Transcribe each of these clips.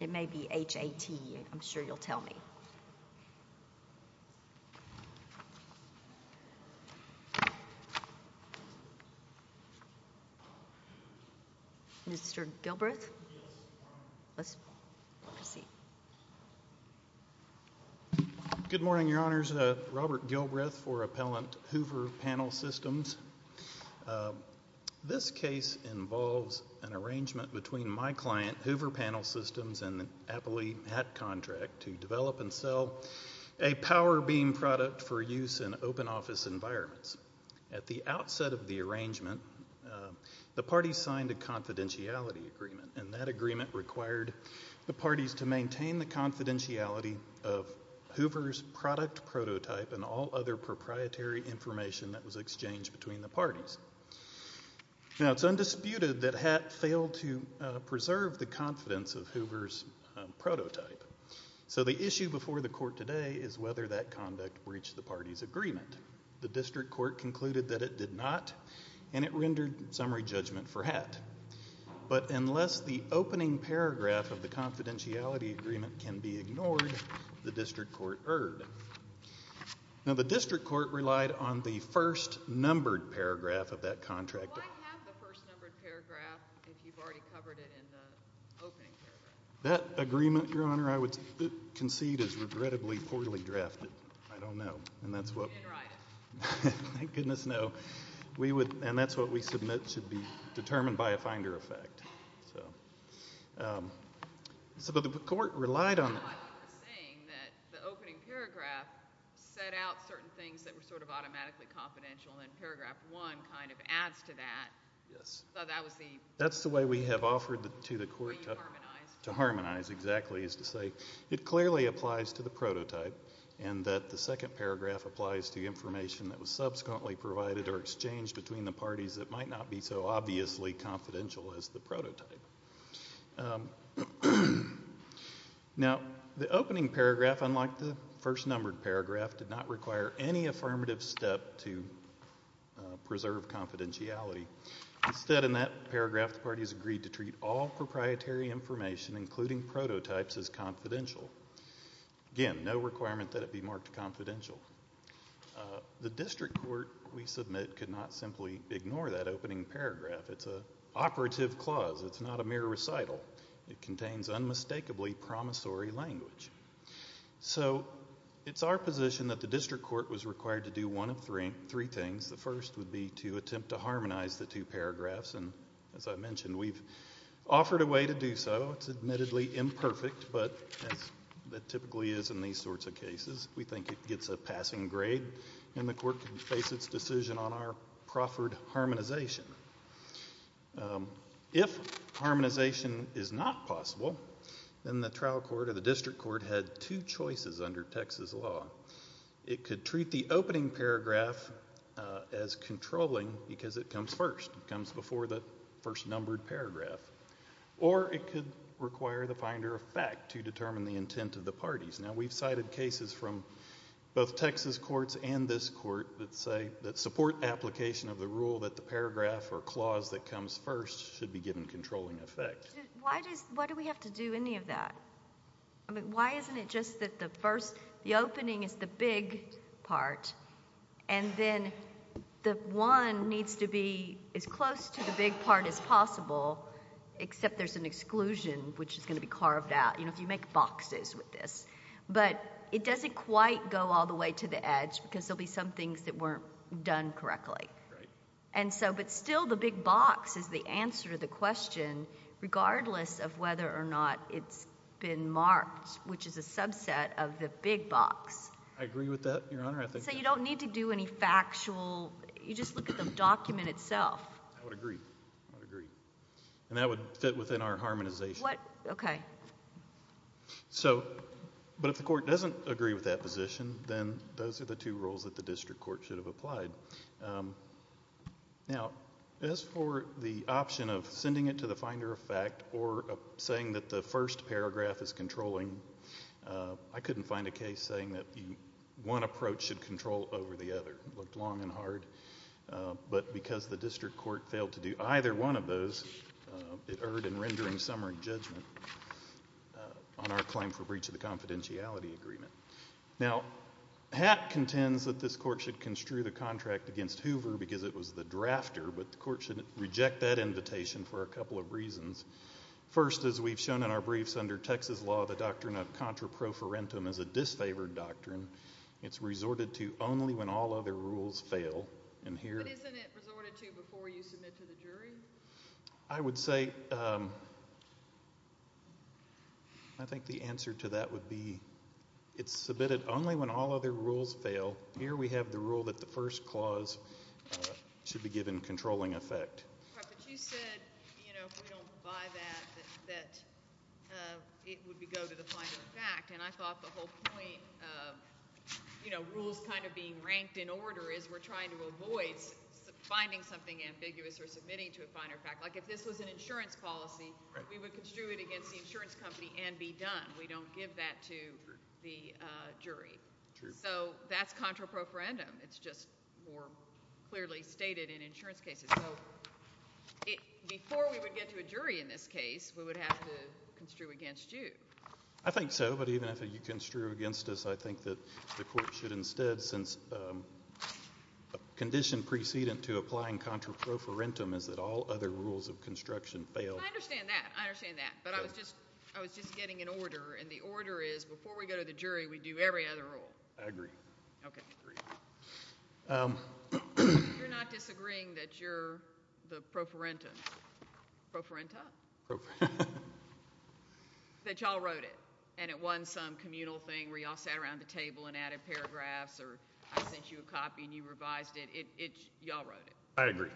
It may be H-A-T. I'm sure you'll tell me. Mr. Gilbreth? Good morning, Your Honors. Robert Gilbreth for Appellant Hoover Panel Systems. This case involves an arrangement between my client, Hoover Panel Systems, and the Appellate HAT Contract to develop and sell a power beam product for use in open office environments. At the outset of the arrangement, the parties signed a confidentiality agreement, and that agreement required the parties to maintain the confidentiality of Hoover's product prototype and all other proprietary information that was exchanged between the parties. Now, it's undisputed that HAT failed to preserve the confidence of Hoover's prototype. So the issue before the court today is whether that conduct breached the parties' agreement. The district court concluded that it did not, and it rendered summary judgment for HAT. But unless the opening paragraph of the confidentiality agreement can be ignored, the district court Now, the district court relied on the first numbered paragraph of that contract. Why have the first numbered paragraph if you've already covered it in the opening paragraph? That agreement, Your Honor, I would concede is regrettably poorly drafted. I don't know. You didn't write it. Thank goodness, no. And that's what we submit should be determined by a finder effect. So the court relied on You're saying that the opening paragraph set out certain things that were sort of automatically confidential, and paragraph one kind of adds to that. Yes. So that was the That's the way we have offered to the court To harmonize To harmonize, exactly, is to say it clearly applies to the prototype, and that the second paragraph applies to information that was subsequently provided or exchanged between the parties that might not be so obviously confidential as the prototype. Now, the opening paragraph, unlike the first numbered paragraph, did not require any affirmative step to preserve confidentiality. Instead, in that paragraph, the parties agreed to treat all proprietary information, including prototypes, as confidential. Again, no requirement that it be marked confidential. The district court, we submit, could not simply ignore that opening paragraph. It's an operative clause. It's not a mere recital. It contains unmistakably promissory language. So it's our position that the district court was required to do one of three things. The first would be to attempt to harmonize the two paragraphs. And as I mentioned, we've offered a way to do so. It's admittedly imperfect, but as it typically is in these sorts of cases, we think it gets a passing grade and the court can face its decision on our proffered harmonization. If harmonization is not possible, then the trial court or the district court had two choices under Texas law. It could treat the opening paragraph as controlling because it comes first. It comes before the first numbered paragraph. Or it could require the finder of fact to determine the intent of the parties. Now, we've cited cases from both Texas courts and this court that support application of the rule that the paragraph or clause that comes first should be given controlling effect. Why do we have to do any of that? Why isn't it just that the opening is the big part, and then the one needs to be as close to the big part as possible, except there's an exclusion which is going to be carved out. You know, if you make boxes with this. But it doesn't quite go all the way to the edge because there will be some things that weren't done correctly. Right. But still the big box is the answer to the question regardless of whether or not it's been marked, which is a subset of the big box. I agree with that, Your Honor. So you don't need to do any factual. You just look at the document itself. I would agree. I would agree. And that would fit within our harmonization. What? Okay. So, but if the court doesn't agree with that position, then those are the two rules that the district court should have applied. Now, as for the option of sending it to the finder of fact or saying that the first paragraph is controlling, I couldn't find a case saying that one approach should control over the other. It looked long and hard. But because the district court failed to do either one of those, it erred in rendering summary judgment on our claim for breach of the confidentiality agreement. Now, Hatt contends that this court should construe the contract against Hoover because it was the drafter, but the court should reject that invitation for a couple of reasons. First, as we've shown in our briefs, under Texas law, the doctrine of contraprofarentum is a disfavored doctrine. It's resorted to only when all other rules fail. But isn't it resorted to before you submit to the jury? I would say I think the answer to that would be it's submitted only when all other rules fail. Here we have the rule that the first clause should be given controlling effect. But you said, you know, if we don't buy that, that it would go to the finder of fact, and I thought the whole point of, you know, rules kind of being ranked in order is we're trying to avoid finding something ambiguous or submitting to a finder of fact. Like if this was an insurance policy, we would construe it against the insurance company and be done. We don't give that to the jury. So that's contraprofarentum. It's just more clearly stated in insurance cases. So before we would get to a jury in this case, we would have to construe against you. I think so, but even if you construe against us, I think that the court should instead, since a condition precedent to applying contraprofarentum is that all other rules of construction fail. I understand that. I understand that. But I was just getting an order, and the order is before we go to the jury, we do every other rule. I agree. Okay. I agree. You're not disagreeing that you're the profarentum? Profarenta? That y'all wrote it, and it wasn't some communal thing where y'all sat around the table and added paragraphs or I sent you a copy and you revised it. Y'all wrote it. I agree.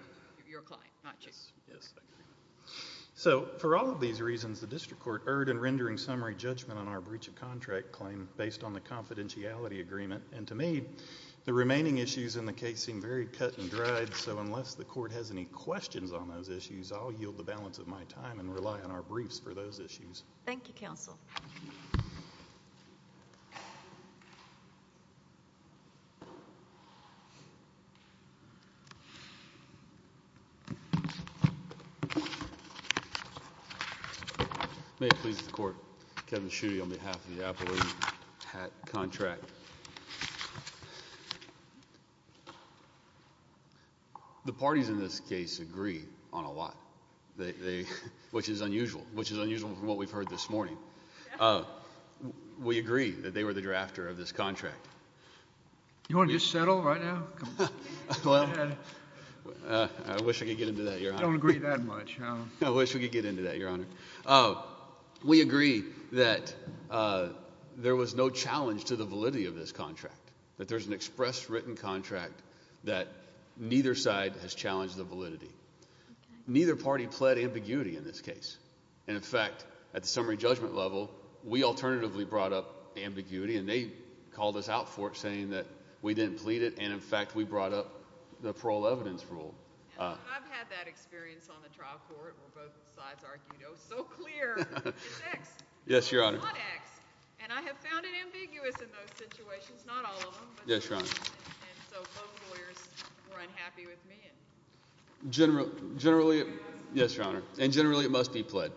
You're a client, not a chief. Yes, I agree. So for all of these reasons, the district court erred in rendering summary judgment on our breach of contract claim based on the confidentiality agreement, and to me, the remaining issues in the case seem very cut and dried, so unless the court has any questions on those issues, I'll yield the balance of my time and rely on our briefs for those issues. Thank you. May it please the court. Kevin Schuette on behalf of the Appellate Hat Contract. The parties in this case agree on a lot, which is unusual, which is unusual from what we've heard this morning. We agree that they were the drafter of this contract. You want to just settle right now? I wish I could get into that, Your Honor. I don't agree that much. I wish we could get into that, Your Honor. We agree that there was no challenge to the validity of this contract, that there's an express written contract that neither side has challenged the validity. Neither party pled ambiguity in this case, and in fact, at the summary judgment level, we alternatively brought up ambiguity, and they called us out for it, saying that we didn't plead it, and in fact, we brought up the parole evidence rule. I've had that experience on the trial court where both sides argued, oh, so clear, it's X. Yes, Your Honor. It's not X, and I have found it ambiguous in those situations, not all of them. Yes, Your Honor. And so both lawyers were unhappy with me. Generally, yes, Your Honor, and generally it must be pled.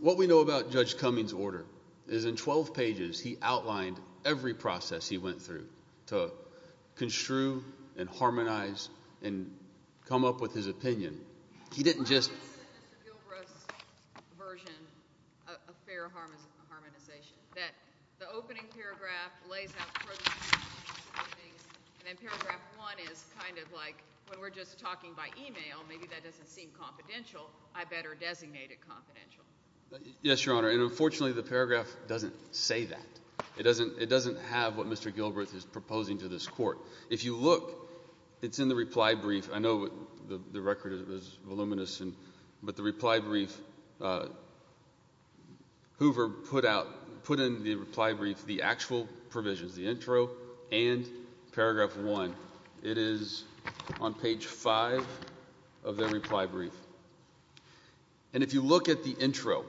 What we know about Judge Cummings' order is in 12 pages he outlined every process he went through to construe and harmonize and come up with his opinion. He didn't just – Mr. Gilbreth's version of fair harmonization, that the opening paragraph lays out – and then paragraph one is kind of like when we're just talking by email, maybe that doesn't seem confidential. I better designate it confidential. Yes, Your Honor, and unfortunately the paragraph doesn't say that. It doesn't have what Mr. Gilbreth is proposing to this court. If you look, it's in the reply brief. I know the record is voluminous, but the reply brief, Hoover put in the reply brief the actual provisions, the intro and paragraph one. It is on page five of the reply brief. And if you look at the intro,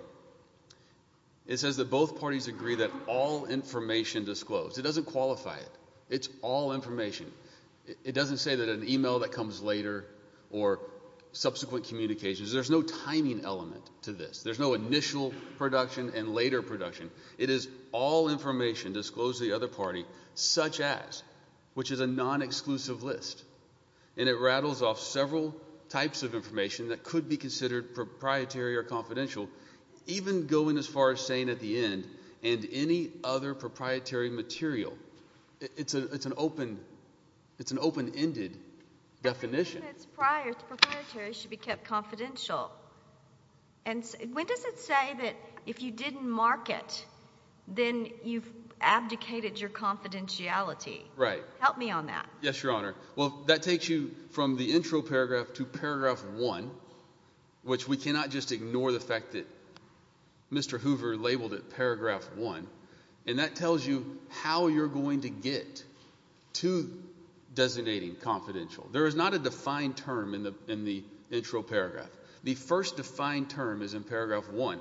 it says that both parties agree that all information disclosed. It doesn't qualify it. It's all information. It doesn't say that an email that comes later or subsequent communications. There's no timing element to this. There's no initial production and later production. It is all information disclosed to the other party, such as, which is a non-exclusive list, and it rattles off several types of information that could be considered proprietary or confidential, even going as far as saying at the end, and any other proprietary material. It's an open-ended definition. I think that it's prior to proprietary should be kept confidential. And when does it say that if you didn't mark it, then you've abdicated your confidentiality? Right. Help me on that. Yes, Your Honor. Well, that takes you from the intro paragraph to paragraph one, which we cannot just ignore the fact that Mr. Hoover labeled it paragraph one. And that tells you how you're going to get to designating confidential. There is not a defined term in the intro paragraph. The first defined term is in paragraph one.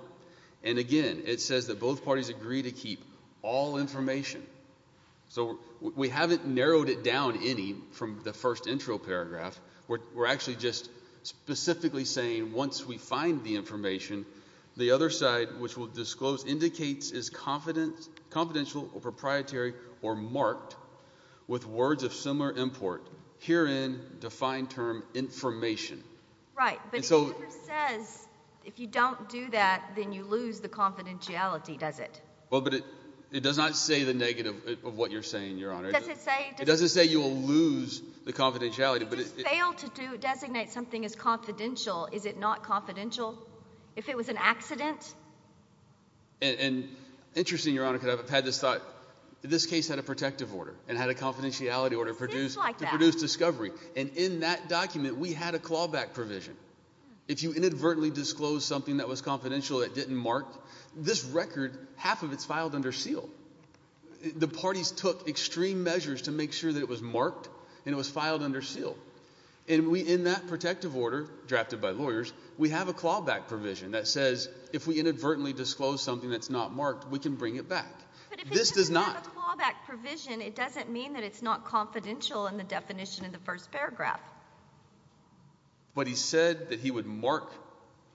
And, again, it says that both parties agree to keep all information. So we haven't narrowed it down any from the first intro paragraph. We're actually just specifically saying once we find the information, the other side, which we'll disclose, indicates is confidential or proprietary or marked with words of similar import, herein defined term information. Right. But if Hoover says if you don't do that, then you lose the confidentiality, does it? Well, but it does not say the negative of what you're saying, Your Honor. It doesn't say you'll lose the confidentiality. If you fail to designate something as confidential, is it not confidential? If it was an accident? And interesting, Your Honor, because I've had this thought. This case had a protective order and had a confidentiality order to produce discovery. And in that document, we had a clawback provision. If you inadvertently disclose something that was confidential that didn't mark, this record, half of it is filed under seal. The parties took extreme measures to make sure that it was marked and it was filed under seal. And in that protective order drafted by lawyers, we have a clawback provision that says if we inadvertently disclose something that's not marked, we can bring it back. But if it doesn't have a clawback provision, it doesn't mean that it's not confidential in the definition in the first paragraph. But he said that he would mark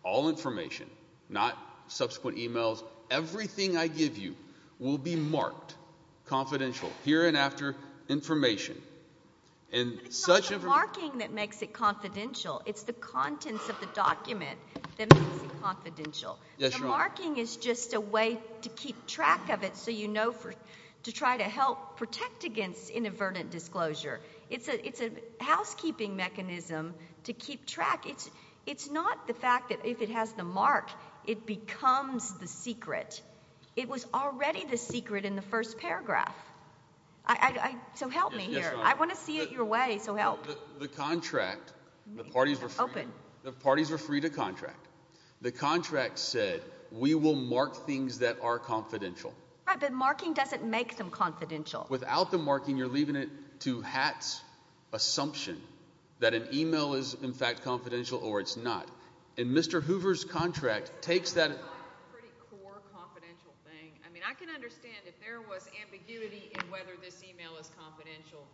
all information, not subsequent e-mails. Everything I give you will be marked confidential, here and after information. But it's not the marking that makes it confidential. It's the contents of the document that makes it confidential. Yes, Your Honor. The marking is just a way to keep track of it so you know to try to help protect against inadvertent disclosure. It's a housekeeping mechanism to keep track. It's not the fact that if it has the mark, it becomes the secret. It was already the secret in the first paragraph. So help me here. I want to see it your way, so help. The contract, the parties were free to contract. The contract said we will mark things that are confidential. Right, but marking doesn't make them confidential. Without the marking, you're leaving it to Hatt's assumption that an e-mail is in fact confidential or it's not. And Mr. Hoover's contract takes that. It's a pretty core confidential thing. I mean I can understand if there was ambiguity in whether this e-mail is confidential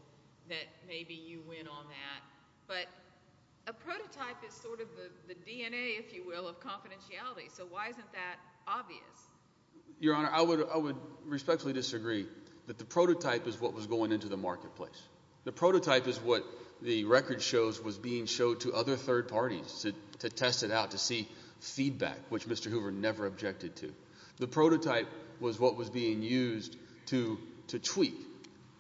that maybe you win on that. But a prototype is sort of the DNA, if you will, of confidentiality. So why isn't that obvious? Your Honor, I would respectfully disagree that the prototype is what was going into the marketplace. The prototype is what the record shows was being showed to other third parties to test it out, to see feedback, which Mr. Hoover never objected to. The prototype was what was being used to tweak.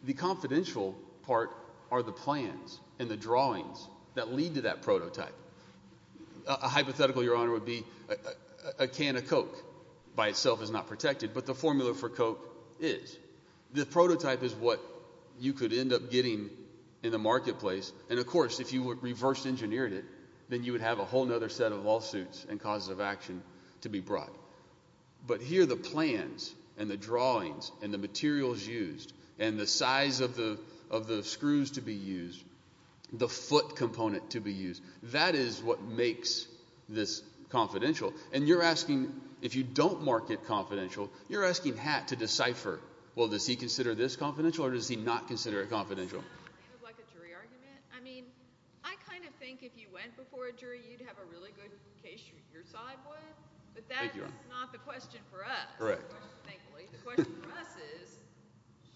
The confidential part are the plans and the drawings that lead to that prototype. A hypothetical, Your Honor, would be a can of Coke by itself is not protected, but the formula for Coke is. The prototype is what you could end up getting in the marketplace. And, of course, if you reverse engineered it, then you would have a whole other set of lawsuits and causes of action to be brought. But here the plans and the drawings and the materials used and the size of the screws to be used, the foot component to be used, that is what makes this confidential. And you're asking – if you don't market confidential, you're asking Hatt to decipher. Well, does he consider this confidential or does he not consider it confidential? In the name of like a jury argument, I mean I kind of think if you went before a jury, you'd have a really good case your side would. But that is not the question for us. The question for us is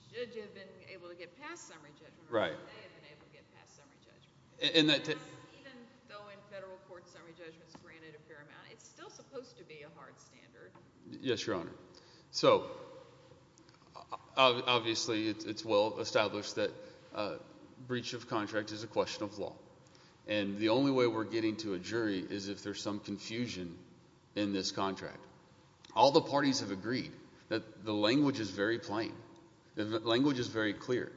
should you have been able to get past summary judgment or should they have been able to get past summary judgment? Even though in federal court summary judgment is granted a fair amount, it's still supposed to be a hard standard. Yes, Your Honor. So obviously it's well established that breach of contract is a question of law. And the only way we're getting to a jury is if there's some confusion in this contract. All the parties have agreed that the language is very plain. The language is very clear.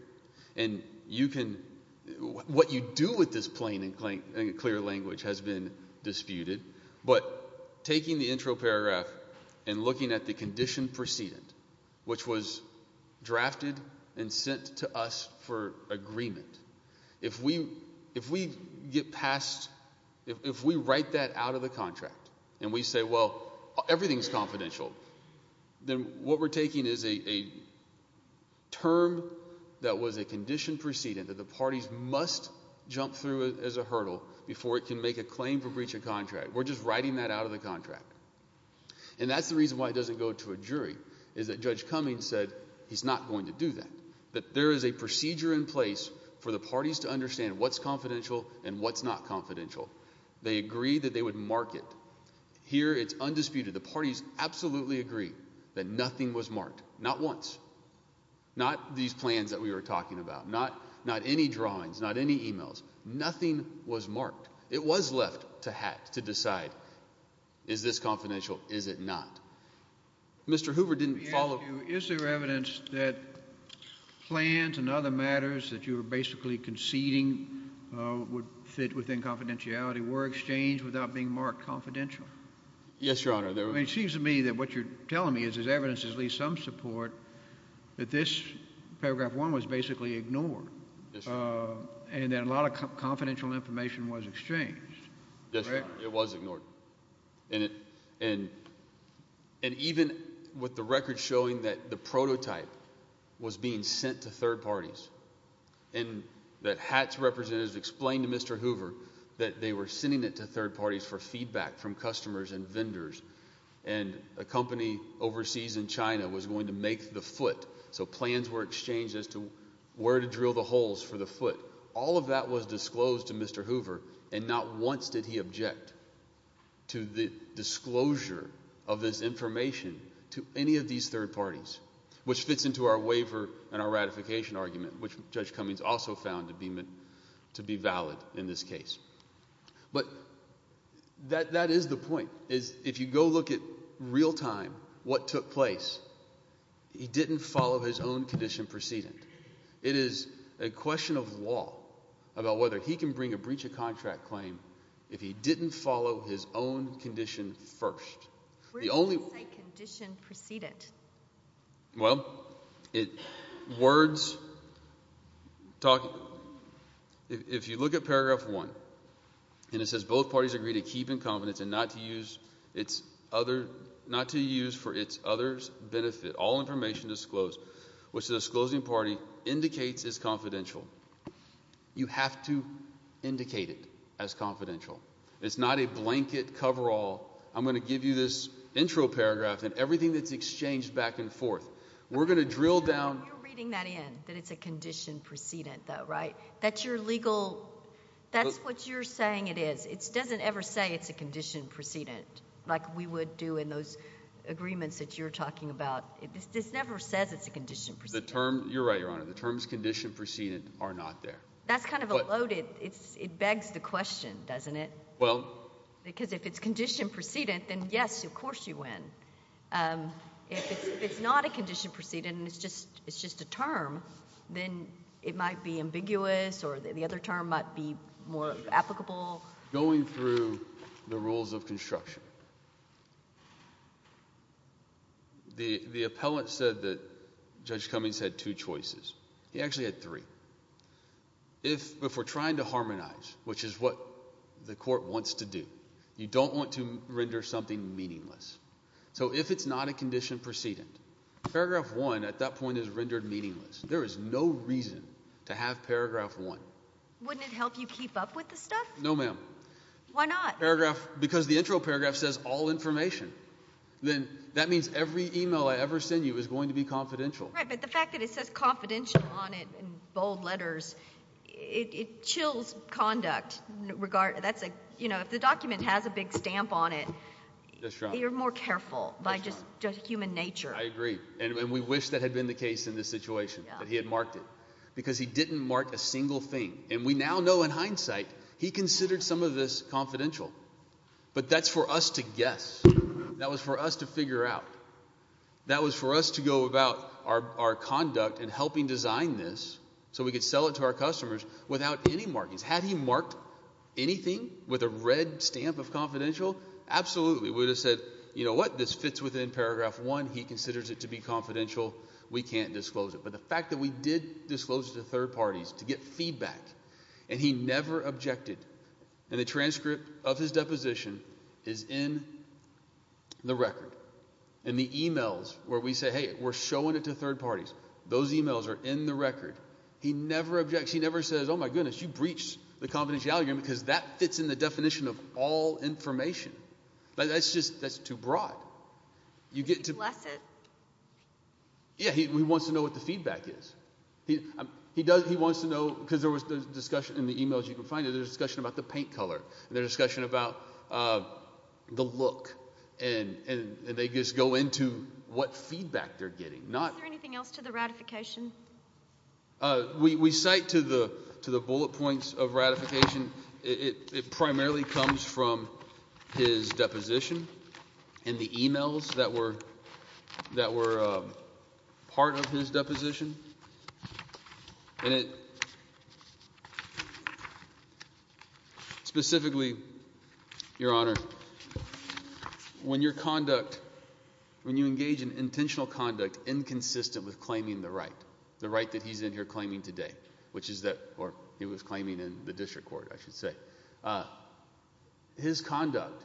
And you can – what you do with this plain and clear language has been disputed. But taking the intro paragraph and looking at the condition precedent, which was drafted and sent to us for agreement, if we get past – if we write that out of the contract and we say, well, everything is confidential, then what we're taking is a term that was a condition precedent that the parties must jump through as a hurdle before it can make a claim for breach of contract. We're just writing that out of the contract. And that's the reason why it doesn't go to a jury, is that Judge Cummings said he's not going to do that, that there is a procedure in place for the parties to understand what's confidential and what's not confidential. They agreed that they would mark it. Here it's undisputed. The parties absolutely agree that nothing was marked, not once, not these plans that we were talking about, not any drawings, not any emails. Nothing was marked. It was left to decide, is this confidential, is it not? Mr. Hoover didn't follow – Is there evidence that plans and other matters that you were basically conceding would fit within confidentiality and were exchanged without being marked confidential? Yes, Your Honor. It seems to me that what you're telling me is there's evidence, at least some support, that this paragraph one was basically ignored and that a lot of confidential information was exchanged. Yes, Your Honor. It was ignored. And even with the record showing that the prototype was being sent to third parties and that HATS representatives explained to Mr. Hoover that they were sending it to third parties for feedback from customers and vendors and a company overseas in China was going to make the foot, so plans were exchanged as to where to drill the holes for the foot. All of that was disclosed to Mr. Hoover, and not once did he object to the disclosure of this information to any of these third parties, which fits into our waiver and our ratification argument, which Judge Cummings also found to be valid in this case. But that is the point, is if you go look at real time what took place, he didn't follow his own condition precedent. It is a question of law about whether he can bring a breach of contract claim if he didn't follow his own condition first. Where does it say condition precedent? Well, if you look at paragraph 1, and it says both parties agree to keep in confidence and not to use for its other's benefit all information disclosed, which the disclosing party indicates is confidential. You have to indicate it as confidential. It's not a blanket coverall. I'm going to give you this intro paragraph and everything that's exchanged back and forth. We're going to drill down. You're reading that in, that it's a condition precedent though, right? That you're legal. That's what you're saying it is. It doesn't ever say it's a condition precedent like we would do in those agreements that you're talking about. This never says it's a condition precedent. You're right, Your Honor. The terms condition precedent are not there. That's kind of a loaded. It begs the question, doesn't it? Well. Because if it's condition precedent, then yes, of course you win. If it's not a condition precedent and it's just a term, then it might be ambiguous or the other term might be more applicable. Going through the rules of construction, the appellant said that Judge Cummings had two choices. He actually had three. If we're trying to harmonize, which is what the court wants to do, you don't want to render something meaningless. So if it's not a condition precedent, paragraph one at that point is rendered meaningless. There is no reason to have paragraph one. Wouldn't it help you keep up with the stuff? No, ma'am. Why not? Because the intro paragraph says all information. Then that means every email I ever send you is going to be confidential. Right, but the fact that it says confidential on it in bold letters, it chills conduct. If the document has a big stamp on it, you're more careful by just human nature. I agree. And we wish that had been the case in this situation, that he had marked it. Because he didn't mark a single thing. And we now know in hindsight he considered some of this confidential. But that's for us to guess. That was for us to figure out. That was for us to go about our conduct in helping design this so we could sell it to our customers without any markings. Had he marked anything with a red stamp of confidential? Absolutely. We would have said, you know what, this fits within paragraph one. He considers it to be confidential. We can't disclose it. But the fact that we did disclose it to third parties to get feedback, and he never objected, and the transcript of his deposition is in the record. And the e-mails where we say, hey, we're showing it to third parties, those e-mails are in the record. He never objects. He never says, oh, my goodness, you breached the confidentiality agreement because that fits in the definition of all information. That's just too broad. He wants to know what the feedback is. He wants to know, because there was discussion in the e-mails you can find, there was discussion about the paint color, there was discussion about the look, and they just go into what feedback they're getting. Is there anything else to the ratification? We cite to the bullet points of ratification, it primarily comes from his deposition and the e-mails that were part of his deposition. And it specifically, Your Honor, when your conduct, when you engage in intentional conduct inconsistent with claiming the right, the right that he's in here claiming today, or he was claiming in the district court, I should say, his conduct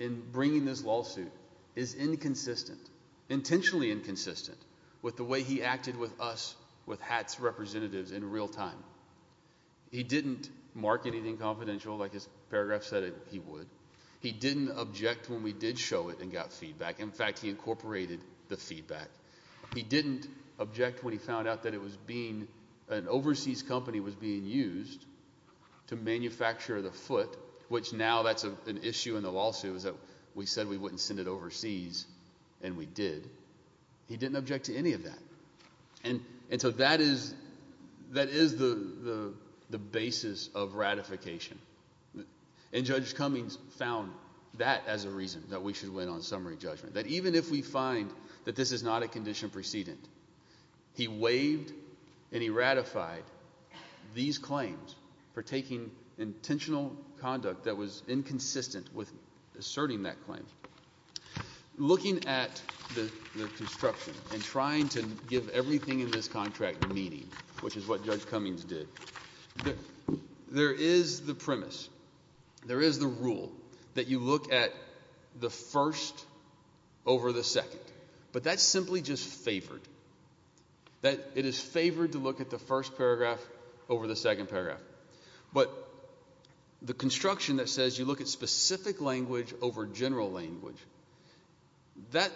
in bringing this lawsuit is inconsistent, intentionally inconsistent with the way he acted with us, with HATS representatives in real time. He didn't mark anything confidential like his paragraph said he would. He didn't object when we did show it and got feedback. In fact, he incorporated the feedback. He didn't object when he found out that it was being, an overseas company was being used to manufacture the foot, which now that's an issue in the lawsuit is that we said we wouldn't send it overseas, and we did. He didn't object to any of that. And so that is the basis of ratification. And Judge Cummings found that as a reason that we should win on summary judgment, that even if we find that this is not a condition precedent, he waived and he ratified these claims for taking intentional conduct that was inconsistent with asserting that claim. Looking at the construction and trying to give everything in this contract meaning, which is what Judge Cummings did, there is the premise, there is the rule that you look at the first over the second. But that's simply just favored. It is favored to look at the first paragraph over the second paragraph. But the construction that says you look at specific language over general language, that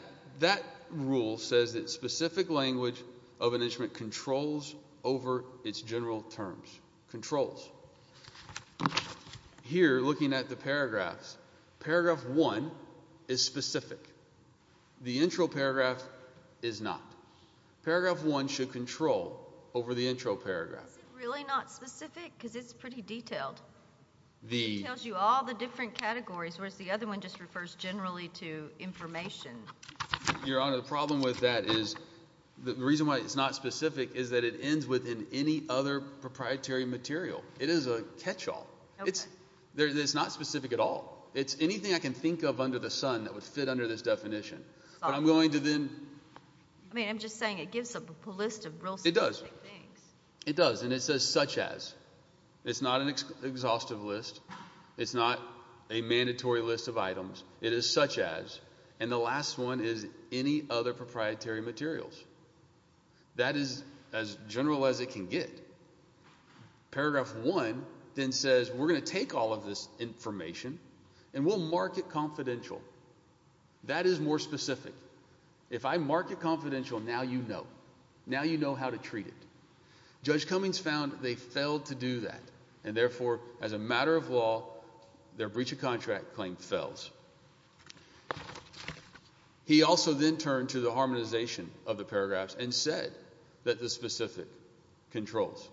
rule says that specific language of an instrument controls over its general terms. Controls. Here, looking at the paragraphs, paragraph 1 is specific. The intro paragraph is not. Paragraph 1 should control over the intro paragraph. Why is it really not specific? Because it's pretty detailed. It tells you all the different categories, whereas the other one just refers generally to information. Your Honor, the problem with that is, the reason why it's not specific is that it ends within any other proprietary material. It is a catch-all. It's not specific at all. It's anything I can think of under the sun that would fit under this definition. But I'm going to then... I mean, I'm just saying it gives up a list of real specific things. It does, and it says such as. It's not an exhaustive list. It's not a mandatory list of items. It is such as. And the last one is any other proprietary materials. That is as general as it can get. Paragraph 1 then says, we're going to take all of this information and we'll mark it confidential. That is more specific. If I mark it confidential, now you know. Now you know how to treat it. Judge Cummings found they failed to do that, and therefore, as a matter of law, their breach of contract claim fails. He also then turned to the harmonization of the paragraphs and said that the specific controls.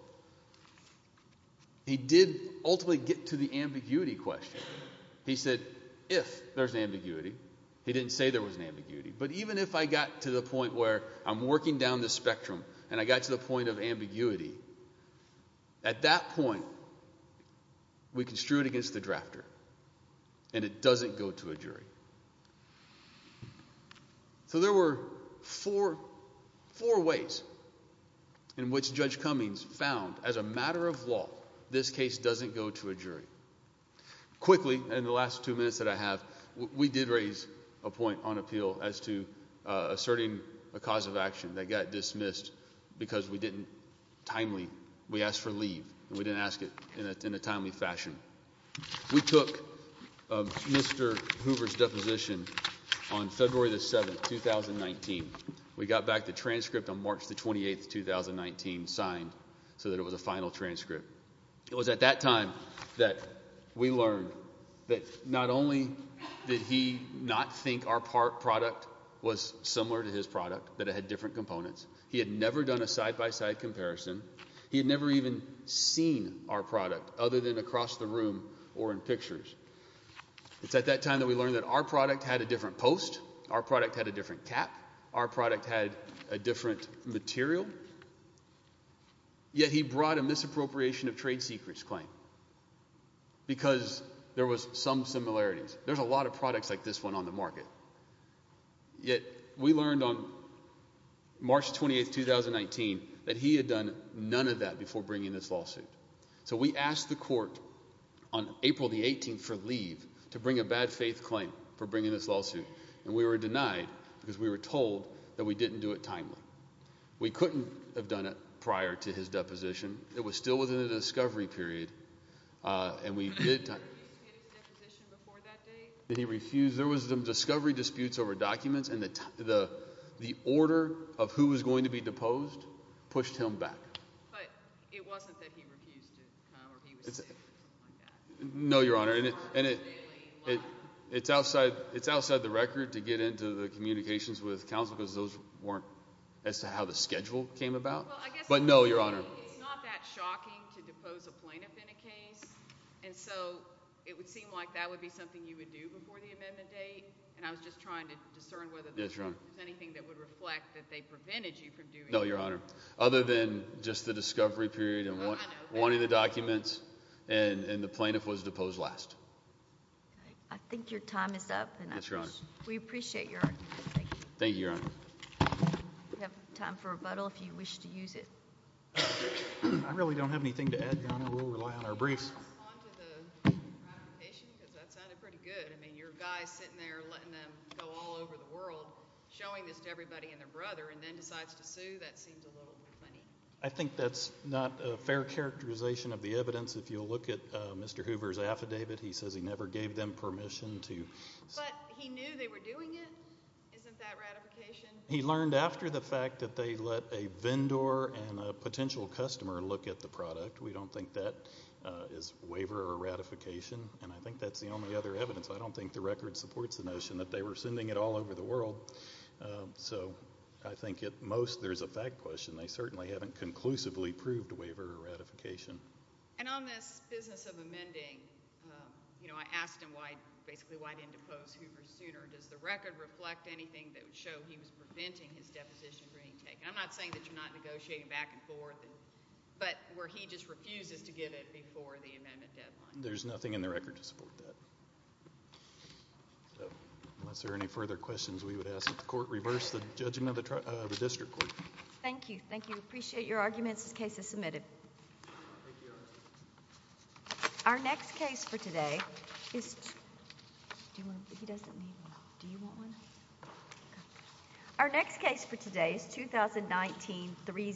He did ultimately get to the ambiguity question. He said, if there's ambiguity. He didn't say there was an ambiguity. But even if I got to the point where I'm working down the spectrum and I got to the point of ambiguity, at that point, we construe it against the drafter, and it doesn't go to a jury. So there were four ways in which Judge Cummings found, as a matter of law, this case doesn't go to a jury. Quickly, in the last two minutes that I have, we did raise a point on appeal as to asserting a cause of action that got dismissed because we didn't timely. We asked for leave, and we didn't ask it in a timely fashion. We took Mr. Hoover's deposition on February 7, 2019. We got back the transcript on March 28, 2019, signed, so that it was a final transcript. It was at that time that we learned that not only did he not think our product was similar to his product, that it had different components, he had never done a side-by-side comparison, he had never even seen our product, other than across the room or in pictures. It's at that time that we learned that our product had a different post, our product had a different cap, our product had a different material. Yet he brought a misappropriation of trade secrets claim because there was some similarities. There's a lot of products like this one on the market. Yet we learned on March 28, 2019, that he had done none of that before bringing this lawsuit. So we asked the court on April 18 for leave to bring a bad faith claim for bringing this lawsuit, and we were denied because we were told that we didn't do it timely. We couldn't have done it prior to his deposition. It was still within the discovery period, and we did... Did he refuse to get his deposition before that date? Did he refuse? There was some discovery disputes over documents, and the order of who was going to be deposed pushed him back. But it wasn't that he refused to come or he was sick or something like that. No, Your Honor, and it's outside the record to get into the communications with counsel because those weren't as to how the schedule came about. But no, Your Honor. It's not that shocking to depose a plaintiff in a case, and so it would seem like that would be something you would do before the amendment date, and I was just trying to discern whether there was anything that would reflect that they prevented you from doing that. No, Your Honor. Other than just the discovery period and wanting the documents, and the plaintiff was deposed last. I think your time is up. Yes, Your Honor. Thank you very much. We appreciate your argument. Thank you. Thank you, Your Honor. We have time for rebuttal if you wish to use it. I really don't have anything to add, Your Honor. We'll rely on our briefs. Can you respond to the provocation? Because that sounded pretty good. I mean, your guy sitting there letting them go all over the world, showing this to everybody and their brother, and then decides to sue, that seems a little bit funny. I think that's not a fair characterization of the evidence. If you'll look at Mr. Hoover's affidavit, he says he never gave them permission to sue. But he knew they were doing it. Isn't that ratification? He learned after the fact that they let a vendor and a potential customer look at the product. We don't think that is waiver or ratification. And I think that's the only other evidence. I don't think the record supports the notion that they were sending it all over the world. So I think at most there's a fact question. They certainly haven't conclusively proved waiver or ratification. And on this business of amending, I asked him basically why he didn't depose Hoover sooner. Does the record reflect anything that would show he was preventing his deposition from being taken? I'm not saying that you're not negotiating back and forth, but where he just refuses to give it before the amendment deadline. There's nothing in the record to support that. Unless there are any further questions, we would ask that the court reverse the judgment of the district court. Thank you. Thank you. Appreciate your arguments. This case is submitted. Thank you. Our next case for today is... Do you want... He doesn't need one. Do you want one? Our next case for today is 2019-03-01.